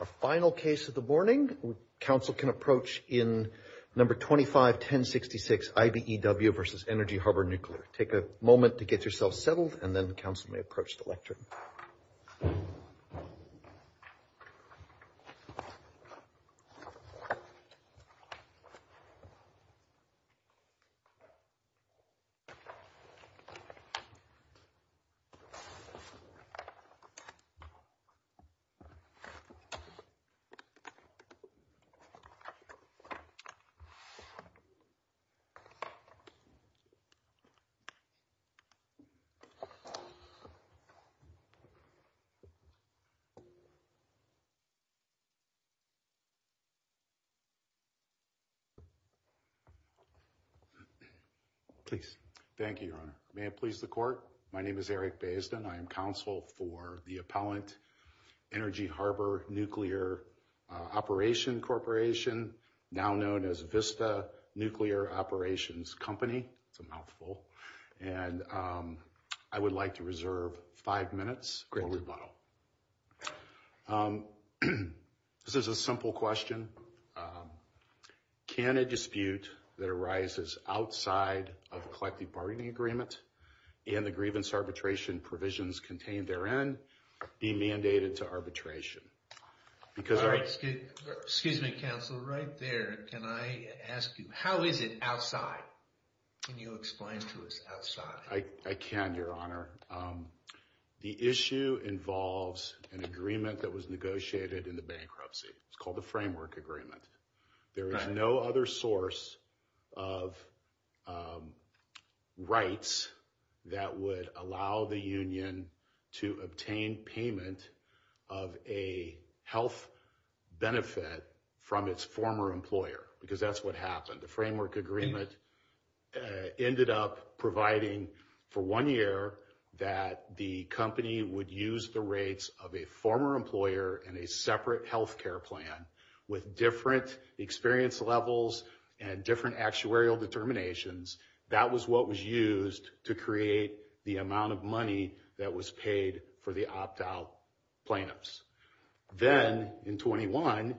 A final case of the morning. Council can approach in number 25 1066 IBEW versus Energy Harbor Nuclear. Take a moment to get yourself settled and then the council may approach the lectern. Please. Thank you, your honor. May it please the court. My name is Eric based and I am counsel for the appellant Energy Harbor Nuclear Operation Corporation, now known as Vista Nuclear Operations Company. It's a mouthful. And I would like to reserve five minutes. Great rebuttal. This is a simple question. Can a dispute that arises outside of collective bargaining agreement and the grievance arbitration provisions contained therein be mandated to arbitration? Because excuse me, counsel right there. Can I ask you, how is it outside? Can you explain to us outside? I can, your honor. The issue involves an agreement that was negotiated in the bankruptcy. It's called the framework agreement. There is no other source of rights that would allow the union to obtain payment of a health benefit from its former employer, because that's what happened. The framework agreement ended up providing for one year that the company would use the rates of a former employer and a separate health care plan with different experience levels and different actuarial determinations. That was what was used to create the amount of money that was paid for the opt out plaintiffs. Then in 21,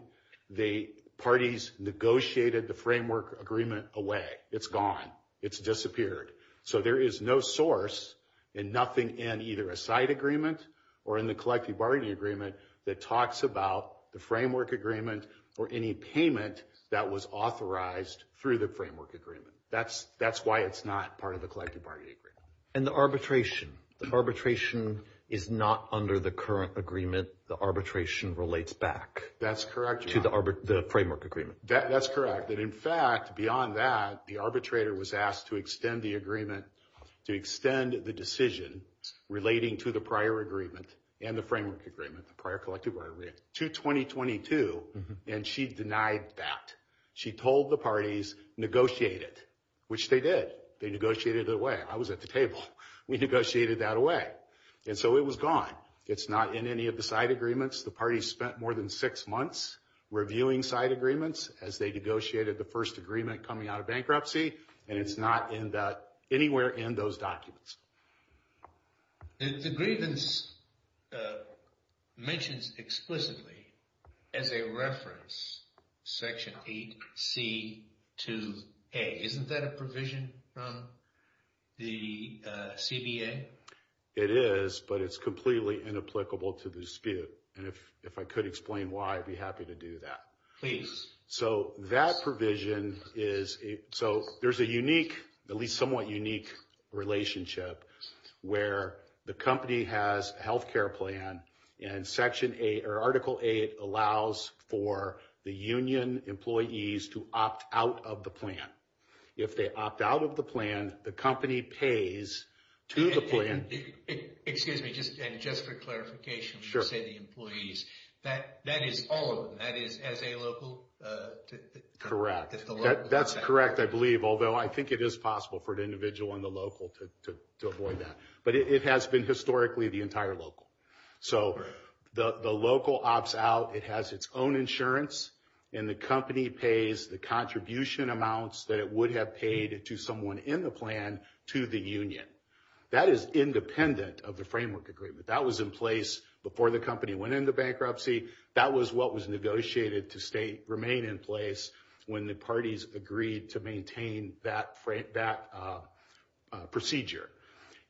the parties negotiated the framework agreement away. It's gone. It's disappeared. So there is no source and nothing in either a side agreement or in the collective bargaining agreement that talks about the framework agreement or any payment that was authorized through the framework agreement. That's why it's not part of the collective bargaining agreement. And the arbitration. The arbitration is not under the current agreement. The arbitration relates back. That's correct. To the framework agreement. That's correct. And in fact, beyond that, the arbitrator was asked to extend the agreement, to extend the decision relating to the prior agreement and the framework agreement, the prior collective bargaining agreement, to 2022. And she denied that. She told the parties negotiated, which they did. They negotiated it away. I was at the table. We negotiated that away. And so it was gone. It's not in any of the side agreements. The party spent more than six months reviewing side agreements as they negotiated the first agreement coming out of bankruptcy. And it's not in that anywhere in those documents. The grievance mentions explicitly as a reference. Section eight. C2A. Isn't that a provision from the CBA? It is, but it's completely inapplicable to the dispute. And if if I could explain why, I'd be happy to do that. So that provision is so there's a unique, at least somewhat unique relationship where the company has health care plan and section eight or article eight allows for the union employees to opt out of the plan. If they opt out of the plan, the company pays to the plan. Excuse me. Just just for clarification. Sure. Say the employees that that is all of that is as a local. Correct. That's correct. I believe, although I think it is possible for an individual on the local to avoid that. But it has been historically the entire local. So the local ops out. It has its own insurance and the company pays the contribution amounts that it would have paid to someone in the plan to the union. That is independent of the framework agreement that was in place before the company went into bankruptcy. That was what was negotiated to stay remain in place when the parties agreed to maintain that that procedure.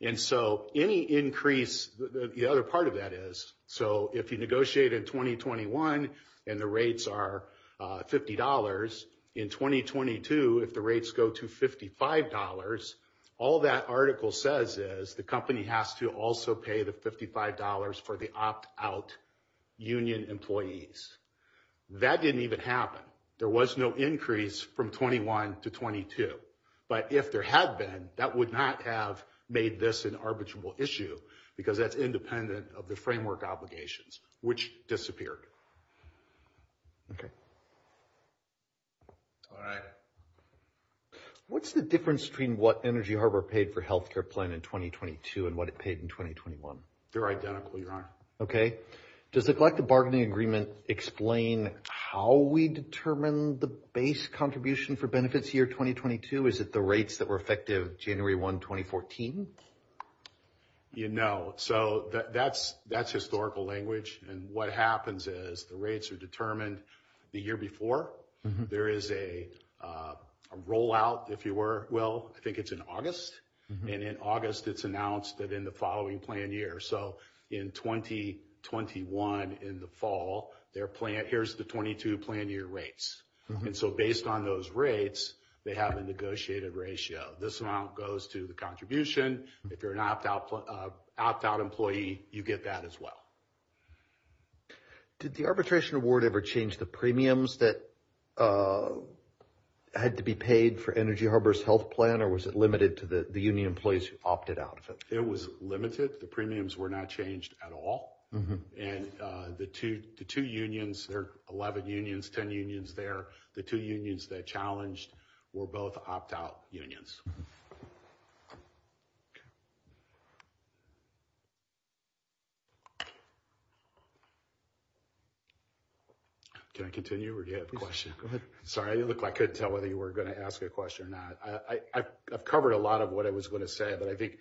And so any increase the other part of that is. So if you negotiate in twenty twenty one and the rates are fifty dollars in twenty twenty two, if the rates go to fifty five dollars. All that article says is the company has to also pay the fifty five dollars for the opt out union employees. That didn't even happen. There was no increase from twenty one to twenty two. But if there had been, that would not have made this an arbitrable issue because that's independent of the framework obligations which disappeared. OK. All right. What's the difference between what Energy Harbor paid for health care plan in twenty twenty two and what it paid in twenty twenty one? They're identical. You're on. OK. Does the collective bargaining agreement explain how we determine the base contribution for benefits here? Twenty twenty two. Is it the rates that were effective January one, twenty fourteen? You know, so that's that's historical language. And what happens is the rates are determined the year before there is a rollout, if you were. Well, I think it's in August and in August it's announced that in the following plan year. So in twenty twenty one in the fall, their plan, here's the twenty two plan year rates. And so based on those rates, they have a negotiated ratio. This amount goes to the contribution. If you're an opt out, opt out employee, you get that as well. Did the arbitration award ever change the premiums that had to be paid for Energy Harbor's health plan or was it limited to the union place opted out? It was limited. The premiums were not changed at all. And the two to two unions, there are 11 unions, 10 unions there. The two unions that challenged were both opt out unions. Can I continue or do you have a question? Sorry, I look like I could tell whether you were going to ask a question or not. I've covered a lot of what I was going to say, but I think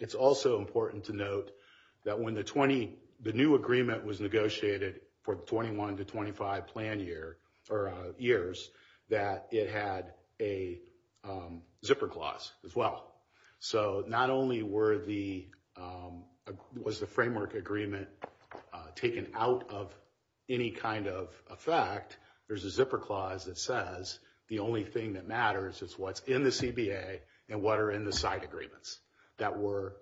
it's also important to note that when the 20 the new agreement was negotiated for twenty one to twenty five plan year or years that it had a zipper clause as well. So not only were the was the framework agreement taken out of any kind of effect, there's a zipper clause that says the only thing that matters is what's in the CBA and what are in the side agreements that were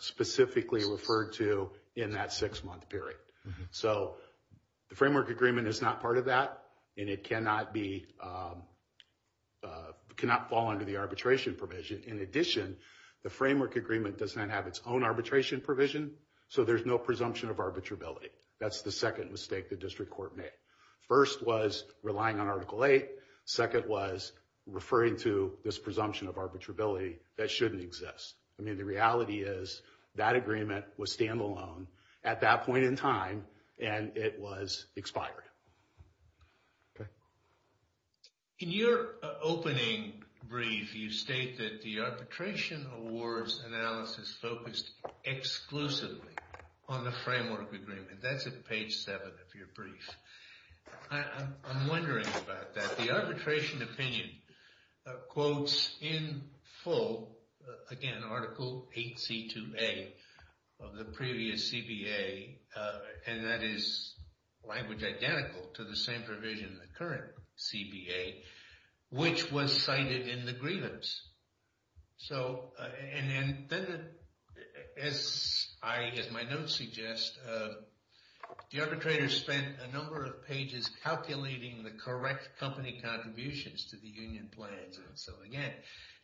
specifically referred to in that six month period. So the framework agreement is not part of that and it cannot be cannot fall under the arbitration provision. In addition, the framework agreement does not have its own arbitration provision. So there's no presumption of arbitrability. That's the second mistake the district court made. First was relying on article eight. Second was referring to this presumption of arbitrability that shouldn't exist. I mean, the reality is that agreement was standalone at that point in time and it was expired. In your opening brief, you state that the arbitration awards analysis focused exclusively on the framework agreement. That's at page seven of your brief. I'm wondering about that. The arbitration opinion quotes in full, again, article 8C2A of the previous CBA. And that is language identical to the same provision in the current CBA, which was cited in the grievance. And then, as my notes suggest, the arbitrator spent a number of pages calculating the correct company contributions to the union plans. So again,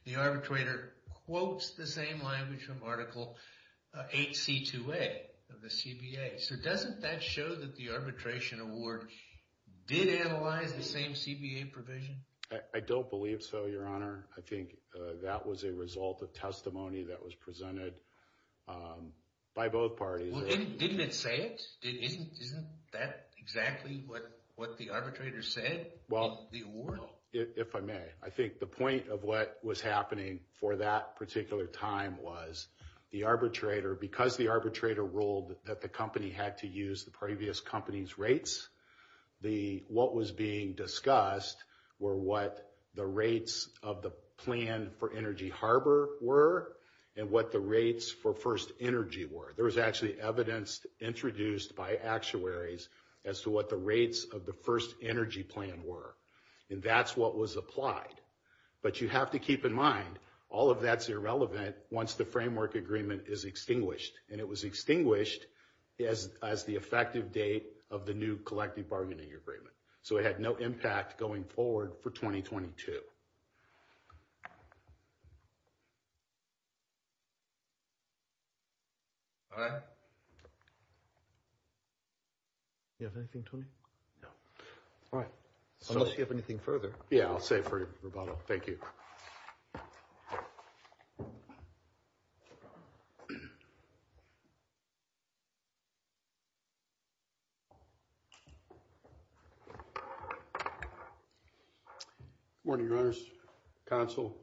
the arbitrator quotes the same language from article 8C2A of the CBA. So doesn't that show that the arbitration award did analyze the same CBA provision? I don't believe so, Your Honor. I think that was a result of testimony that was presented by both parties. Well, didn't it say it? Isn't that exactly what the arbitrator said in the award? Well, if I may, I think the point of what was happening for that particular time was the arbitrator, because the arbitrator ruled that the company had to use the previous company's rates, what was being discussed were what the rates of the plan for Energy Harbor were, and what the rates for First Energy were. There was actually evidence introduced by actuaries as to what the rates of the First Energy plan were. And that's what was applied. But you have to keep in mind, all of that's irrelevant once the framework agreement is extinguished. And it was extinguished as the effective date of the new collective bargaining agreement. So it had no impact going forward for 2022. All right. You have anything, Tony? No. All right. Unless you have anything further. Yeah, I'll save for rebuttal. Thank you. Thank you. Good morning, Your Honors, Counsel.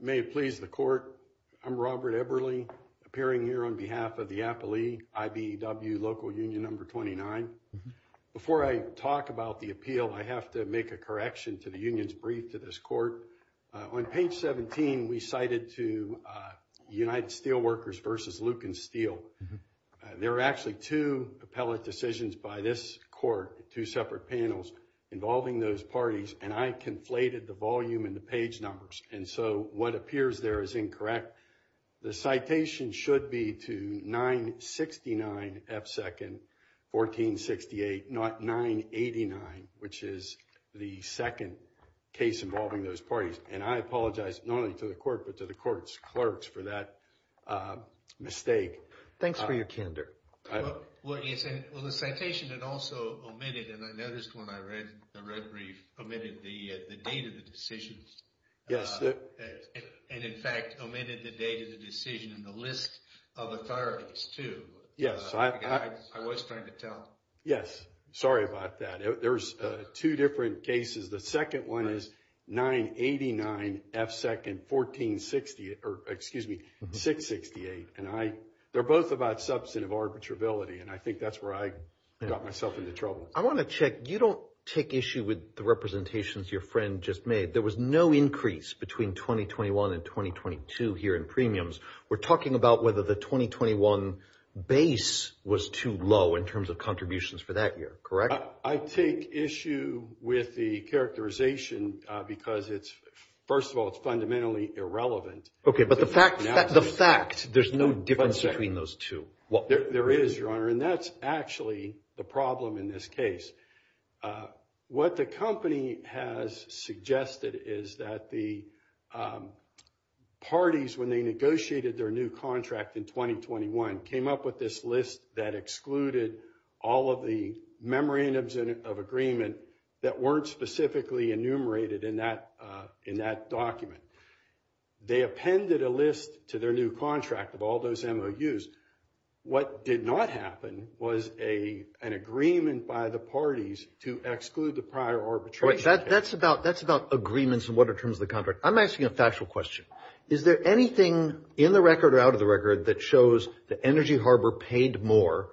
May it please the Court, I'm Robert Eberle, appearing here on behalf of the Appalee IBEW Local Union No. 29. Before I talk about the appeal, I have to make a correction to the union's brief to this Court. On page 17, we cited to United Steel Workers versus Lucan Steel. There are actually two appellate decisions by this Court, two separate panels, involving those parties. And I conflated the volume and the page numbers. And so what appears there is incorrect. The citation should be to 969F2nd 1468, not 989, which is the second case involving those parties. And I apologize not only to the Court, but to the Court's clerks for that mistake. Thanks for your candor. Well, the citation had also omitted, and I noticed when I read the red brief, omitted the date of the decisions. Yes. And in fact, omitted the date of the decision and the list of authorities, too. Yes. I was trying to tell. Yes. Sorry about that. There's two different cases. The second one is 989F2nd 1468, or excuse me, 668. And they're both about substantive arbitrability, and I think that's where I got myself into trouble. I want to check. You don't take issue with the representations your friend just made. There was no increase between 2021 and 2022 here in premiums. We're talking about whether the 2021 base was too low in terms of contributions for that year, correct? I take issue with the characterization because, first of all, it's fundamentally irrelevant. Okay, but the fact, there's no difference between those two. There is, Your Honor, and that's actually the problem in this case. What the company has suggested is that the parties, when they negotiated their new contract in 2021, came up with this list that excluded all of the memorandums of agreement that weren't specifically enumerated in that document. They appended a list to their new contract of all those MOUs. What did not happen was an agreement by the parties to exclude the prior arbitration. That's about agreements and what are terms of the contract. I'm asking a factual question. Is there anything in the record or out of the record that shows the Energy Harbor paid more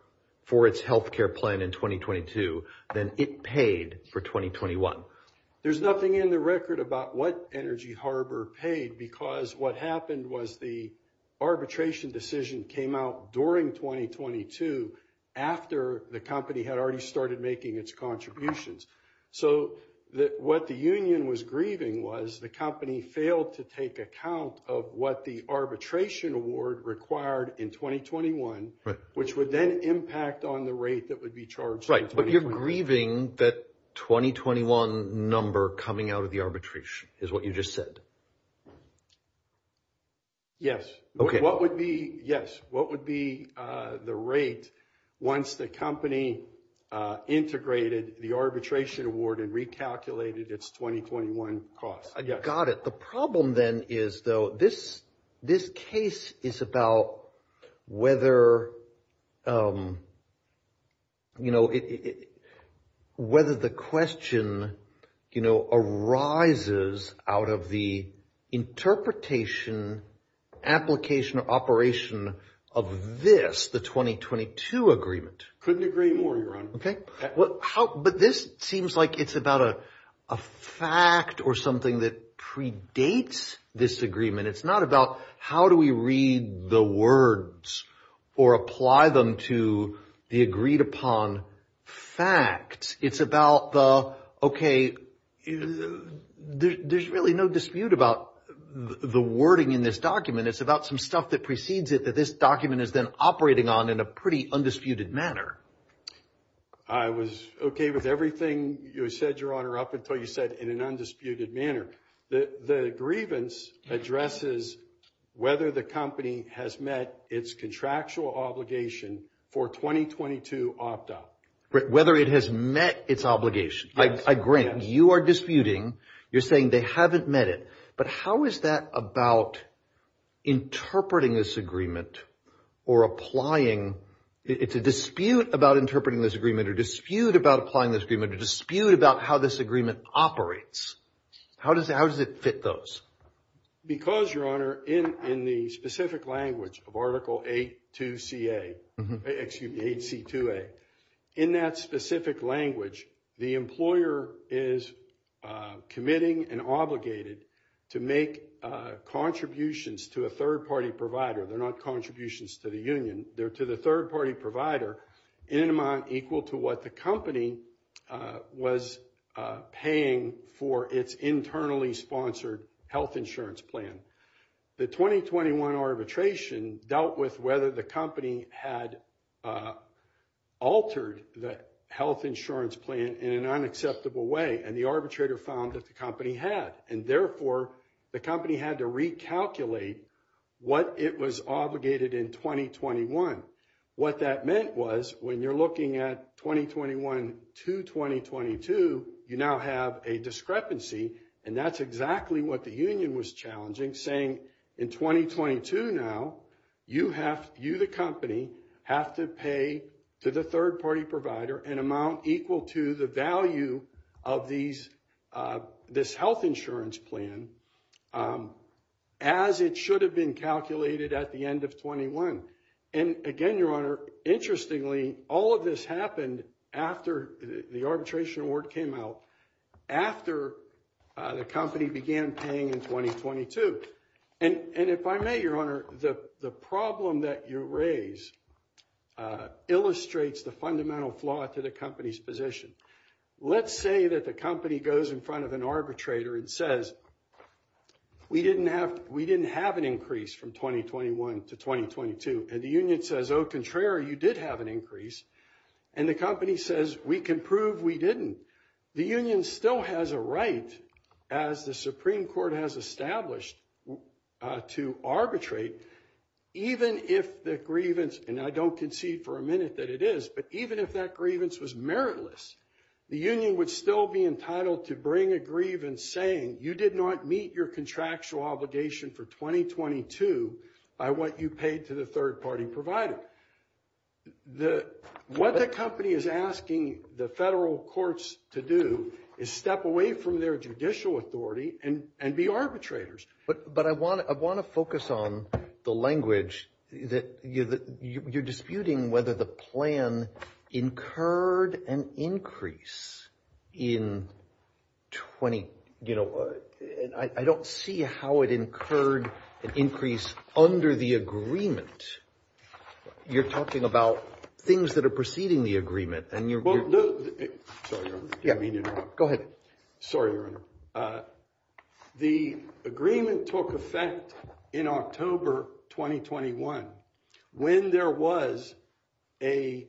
for its health care plan in 2022 than it paid for 2021? There's nothing in the record about what Energy Harbor paid because what happened was the arbitration decision came out during 2022 after the company had already started making its contributions. So what the union was grieving was the company failed to take account of what the arbitration award required in 2021, which would then impact on the rate that would be charged. Right. But you're grieving that 2021 number coming out of the arbitration is what you just said. Yes. OK, what would be? Yes. What would be the rate once the company integrated the arbitration award and recalculated its 2021 cost? I got it. The problem then is, though, this this case is about whether. You know, whether the question, you know, arises out of the interpretation, application or operation of this, the 2022 agreement. Couldn't agree more. OK, but this seems like it's about a fact or something that predates this agreement. It's not about how do we read the words or apply them to the agreed upon facts. It's about the OK. There's really no dispute about the wording in this document. It's about some stuff that precedes it, that this document is then operating on in a pretty undisputed manner. I was OK with everything you said, your honor, up until you said in an undisputed manner that the grievance addresses whether the company has met its contractual obligation for 2022 opt up. Whether it has met its obligation. I agree. You are disputing. You're saying they haven't met it. But how is that about interpreting this agreement or applying? It's a dispute about interpreting this agreement or dispute about applying this agreement to dispute about how this agreement operates. How does how does it fit those? Because, your honor, in in the specific language of Article eight to see a excuse to a in that specific language, the employer is committing and obligated to make contributions to a third party provider. They're not contributions to the union. They're to the third party provider in an amount equal to what the company was paying for its internally sponsored health insurance plan. The twenty twenty one arbitration dealt with whether the company had altered the health insurance plan in an unacceptable way. And the arbitrator found that the company had and therefore the company had to recalculate what it was obligated in twenty twenty one. What that meant was when you're looking at twenty twenty one to twenty twenty two, you now have a discrepancy. And that's exactly what the union was challenging, saying in twenty twenty two. Now you have you the company have to pay to the third party provider an amount equal to the value of these this health insurance plan as it should have been calculated at the end of twenty one. And again, your honor, interestingly, all of this happened after the arbitration award came out, after the company began paying in twenty twenty two. And if I may, your honor, the problem that you raise illustrates the fundamental flaw to the company's position. Let's say that the company goes in front of an arbitrator and says we didn't have we didn't have an increase from twenty twenty one to twenty twenty two. And the union says, oh, contrary, you did have an increase. And the company says we can prove we didn't. The union still has a right, as the Supreme Court has established to arbitrate, even if the grievance. And I don't concede for a minute that it is. But even if that grievance was meritless, the union would still be entitled to bring a grievance saying you did not meet your contractual obligation for twenty twenty two. I want you paid to the third party provider. The what the company is asking the federal courts to do is step away from their judicial authority and and be arbitrators. But but I want to I want to focus on the language that you're disputing, whether the plan incurred an increase in twenty. You know, I don't see how it incurred an increase under the agreement. You're talking about things that are preceding the agreement and you're sorry. Go ahead. Sorry. The agreement took effect in October twenty twenty one when there was a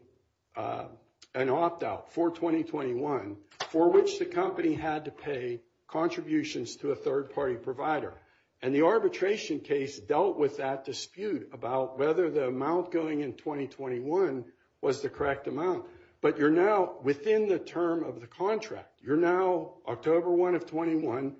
an opt out for twenty twenty one for which the company had to pay contributions to a third party provider. And the arbitration case dealt with that dispute about whether the amount going in twenty twenty one was the correct amount. But you're now within the term of the contract. You're now October one of twenty one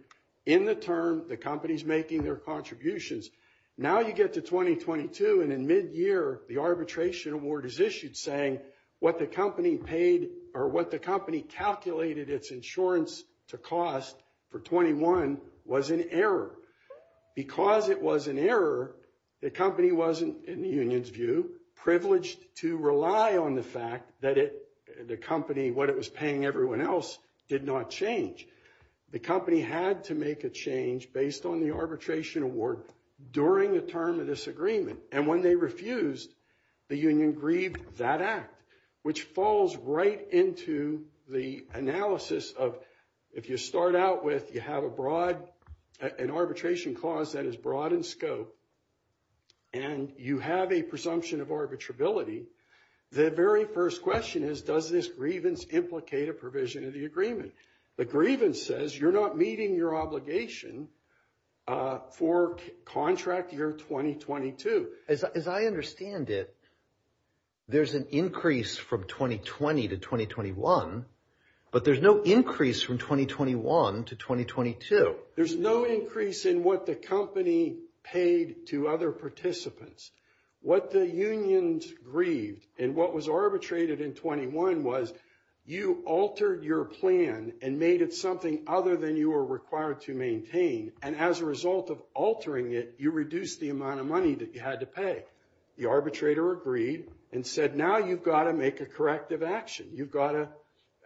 in the term. The company's making their contributions. Now you get to twenty twenty two and in mid year the arbitration award is issued, saying what the company paid or what the company calculated its insurance to cost for twenty one was an error because it was an error. The company wasn't, in the union's view, privileged to rely on the fact that it the company what it was paying everyone else did not change. The company had to make a change based on the arbitration award during the term of this agreement. And when they refused, the union grieved that act, which falls right into the analysis of if you start out with you have a broad an arbitration clause that is broad in scope. And you have a presumption of arbitrability. The very first question is, does this grievance implicate a provision of the agreement? The grievance says you're not meeting your obligation for contract year twenty twenty two. As I understand it, there's an increase from twenty twenty to twenty twenty one. But there's no increase from twenty twenty one to twenty twenty two. There's no increase in what the company paid to other participants. What the unions grieved and what was arbitrated in twenty one was you altered your plan and made it something other than you were required to maintain. And as a result of altering it, you reduce the amount of money that you had to pay. The arbitrator agreed and said, now you've got to make a corrective action. You've got to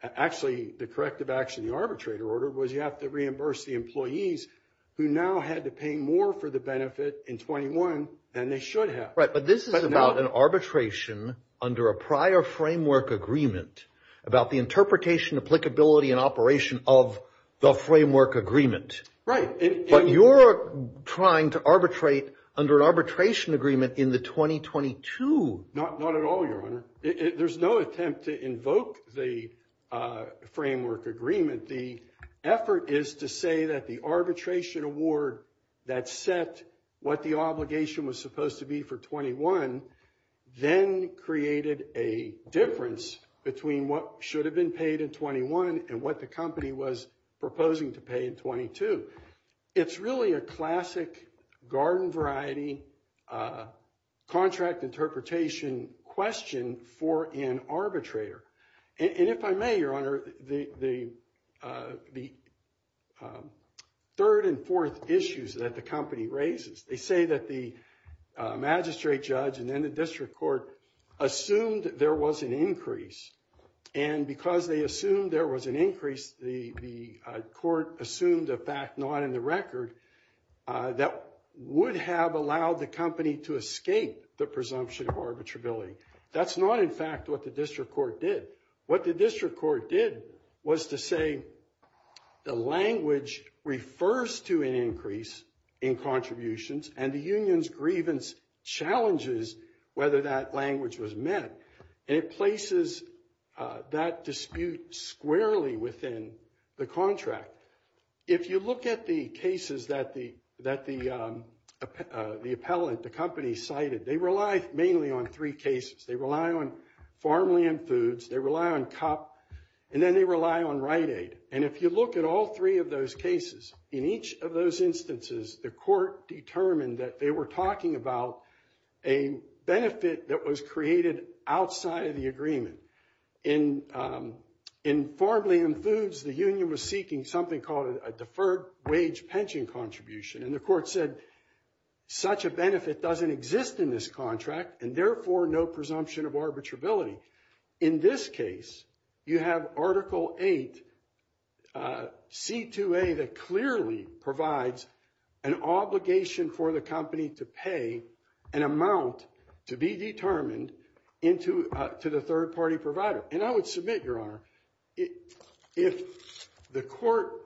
actually the corrective action. The arbitrator order was you have to reimburse the employees who now had to pay more for the benefit in twenty one than they should have. Right. But this is about an arbitration under a prior framework agreement about the interpretation, applicability and operation of the framework agreement. Right. But you're trying to arbitrate under an arbitration agreement in the twenty twenty two. Not not at all, your honor. There's no attempt to invoke the framework agreement. The effort is to say that the arbitration award that set what the obligation was supposed to be for twenty one, then created a difference between what should have been paid in twenty one and what the company was proposing to pay in twenty two. So it's really a classic garden variety contract interpretation question for an arbitrator. And if I may, your honor, the the third and fourth issues that the company raises, they say that the magistrate judge and then the district court assumed there was an increase. And because they assumed there was an increase, the court assumed a fact not in the record that would have allowed the company to escape the presumption of arbitrability. That's not, in fact, what the district court did. What the district court did was to say the language refers to an increase in contributions and the union's grievance challenges whether that language was met. And it places that dispute squarely within the contract. If you look at the cases that the that the the appellant, the company cited, they rely mainly on three cases. They rely on farmland foods. They rely on cop and then they rely on Rite Aid. And if you look at all three of those cases in each of those instances, the court determined that they were talking about a benefit that was created outside of the agreement. And in farmland foods, the union was seeking something called a deferred wage pension contribution. And the court said such a benefit doesn't exist in this contract and therefore no presumption of arbitrability. In this case, you have Article 8 C2A that clearly provides an obligation for the company to pay an amount to be determined into to the third party provider. And I would submit, Your Honor, if the court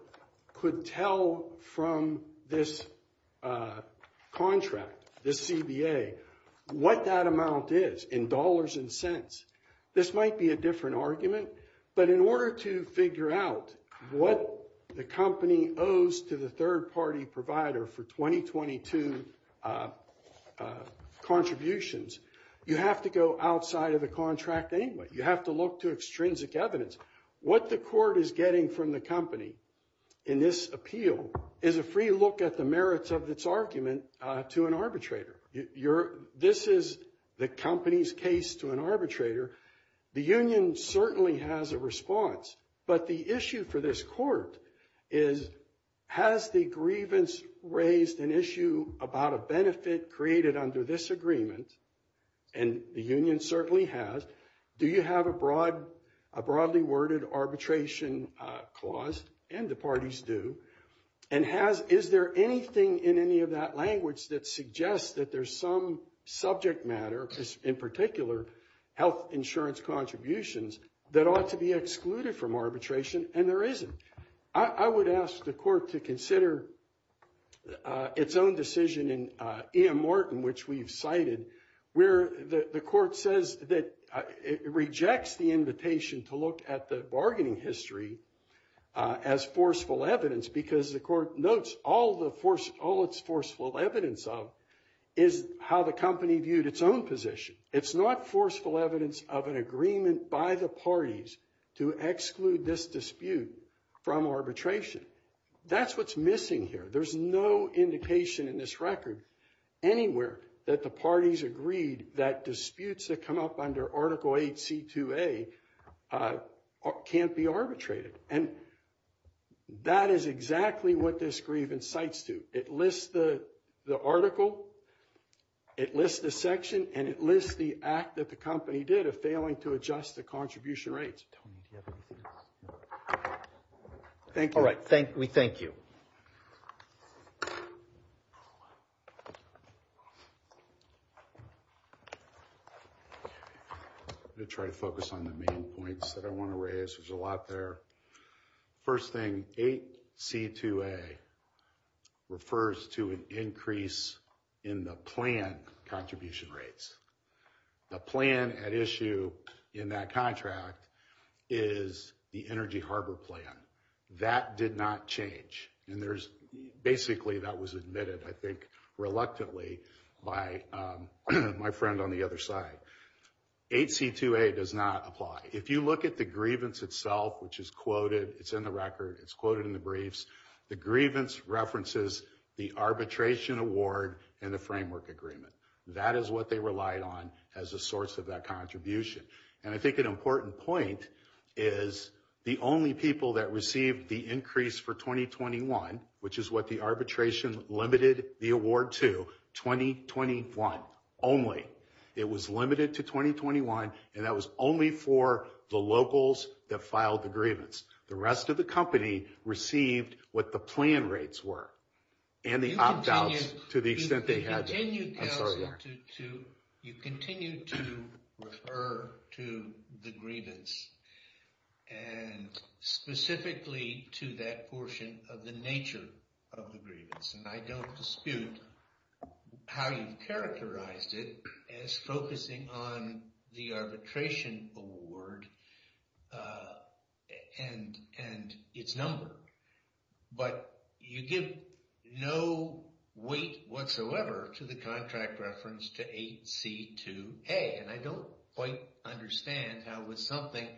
could tell from this contract, this CBA, what that amount is in dollars and cents, this might be a different argument. But in order to figure out what the company owes to the third party provider for 2022 contributions, you have to go outside of the contract. You have to look to extrinsic evidence. What the court is getting from the company in this appeal is a free look at the merits of its argument to an arbitrator. This is the company's case to an arbitrator. The union certainly has a response. But the issue for this court is, has the grievance raised an issue about a benefit created under this agreement? And the union certainly has. Do you have a broadly worded arbitration clause? And the parties do. And is there anything in any of that language that suggests that there's some subject matter, in particular health insurance contributions, that ought to be excluded from arbitration? And there isn't. I would ask the court to consider its own decision in E.M. Martin, which we've cited, where the court says that it rejects the invitation to look at the bargaining history as forceful evidence because the court notes all its forceful evidence of is how the company viewed its own position. It's not forceful evidence of an agreement by the parties to exclude this dispute from arbitration. That's what's missing here. There's no indication in this record anywhere that the parties agreed that disputes that come up under Article 8C2A can't be arbitrated. And that is exactly what this grievance cites to. It lists the article, it lists the section, and it lists the act that the company did of failing to adjust the contribution rates. Tony, do you have anything else? Thank you. All right. We thank you. I'm going to try to focus on the main points that I want to raise. There's a lot there. First thing, 8C2A refers to an increase in the plan contribution rates. The plan at issue in that contract is the Energy Harbor Plan. That did not change. And basically that was admitted, I think, reluctantly by my friend on the other side. 8C2A does not apply. If you look at the grievance itself, which is quoted, it's in the record, it's quoted in the briefs, the grievance references the arbitration award and the framework agreement. That is what they relied on as a source of that contribution. And I think an important point is the only people that received the increase for 2021, which is what the arbitration limited the award to, 2021 only. It was limited to 2021, and that was only for the locals that filed the grievance. The rest of the company received what the plan rates were and the opt-outs to the extent they had. You continue to refer to the grievance and specifically to that portion of the nature of the grievance. And I don't dispute how you've characterized it as focusing on the arbitration award and its number. But you give no weight whatsoever to the contract reference to 8C2A. And I don't quite understand how with something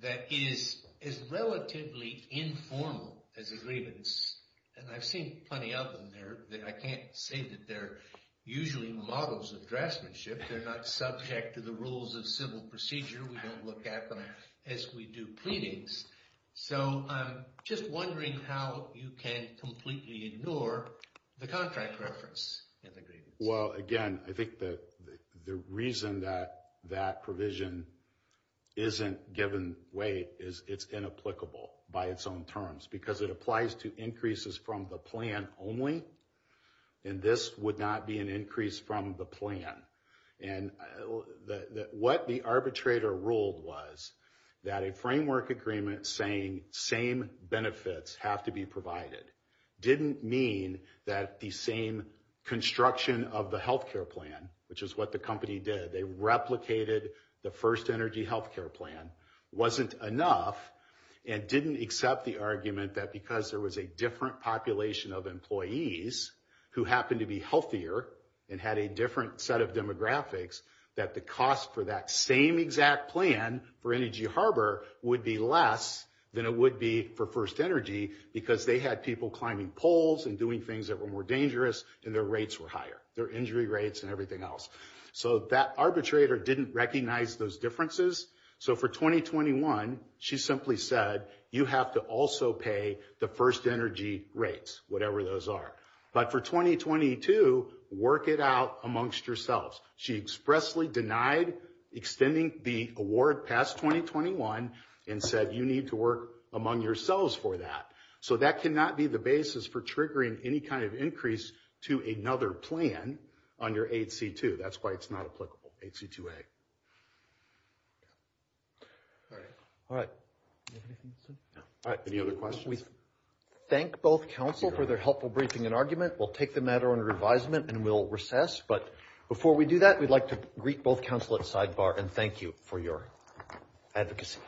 that is as relatively informal as a grievance, and I've seen plenty of them there, that I can't say that they're usually models of draftsmanship. They're not subject to the rules of civil procedure. We don't look at them as we do pleadings. So I'm just wondering how you can completely ignore the contract reference in the grievance. Well, again, I think that the reason that that provision isn't given weight is it's inapplicable by its own terms because it applies to increases from the plan only. And this would not be an increase from the plan. And what the arbitrator ruled was that a framework agreement saying same benefits have to be provided didn't mean that the same construction of the health care plan, which is what the company did, they replicated the first energy health care plan, wasn't enough. And didn't accept the argument that because there was a different population of employees who happened to be healthier and had a different set of demographics, that the cost for that same exact plan for energy harbor would be less than it would be for first energy because they had people climbing poles and doing things that were more dangerous and their rates were higher, their injury rates and everything else. So that arbitrator didn't recognize those differences. So for 2021, she simply said you have to also pay the first energy rates, whatever those are. But for 2022, work it out amongst yourselves. She expressly denied extending the award past 2021 and said you need to work among yourselves for that. So that cannot be the basis for triggering any kind of increase to another plan under 8C2. That's why it's not applicable, 8C2A. All right. All right. Any other questions? We thank both counsel for their helpful briefing and argument. We'll take the matter under advisement and we'll recess. But before we do that, we'd like to greet both counsel at sidebar and thank you for your advocacy. Thank you.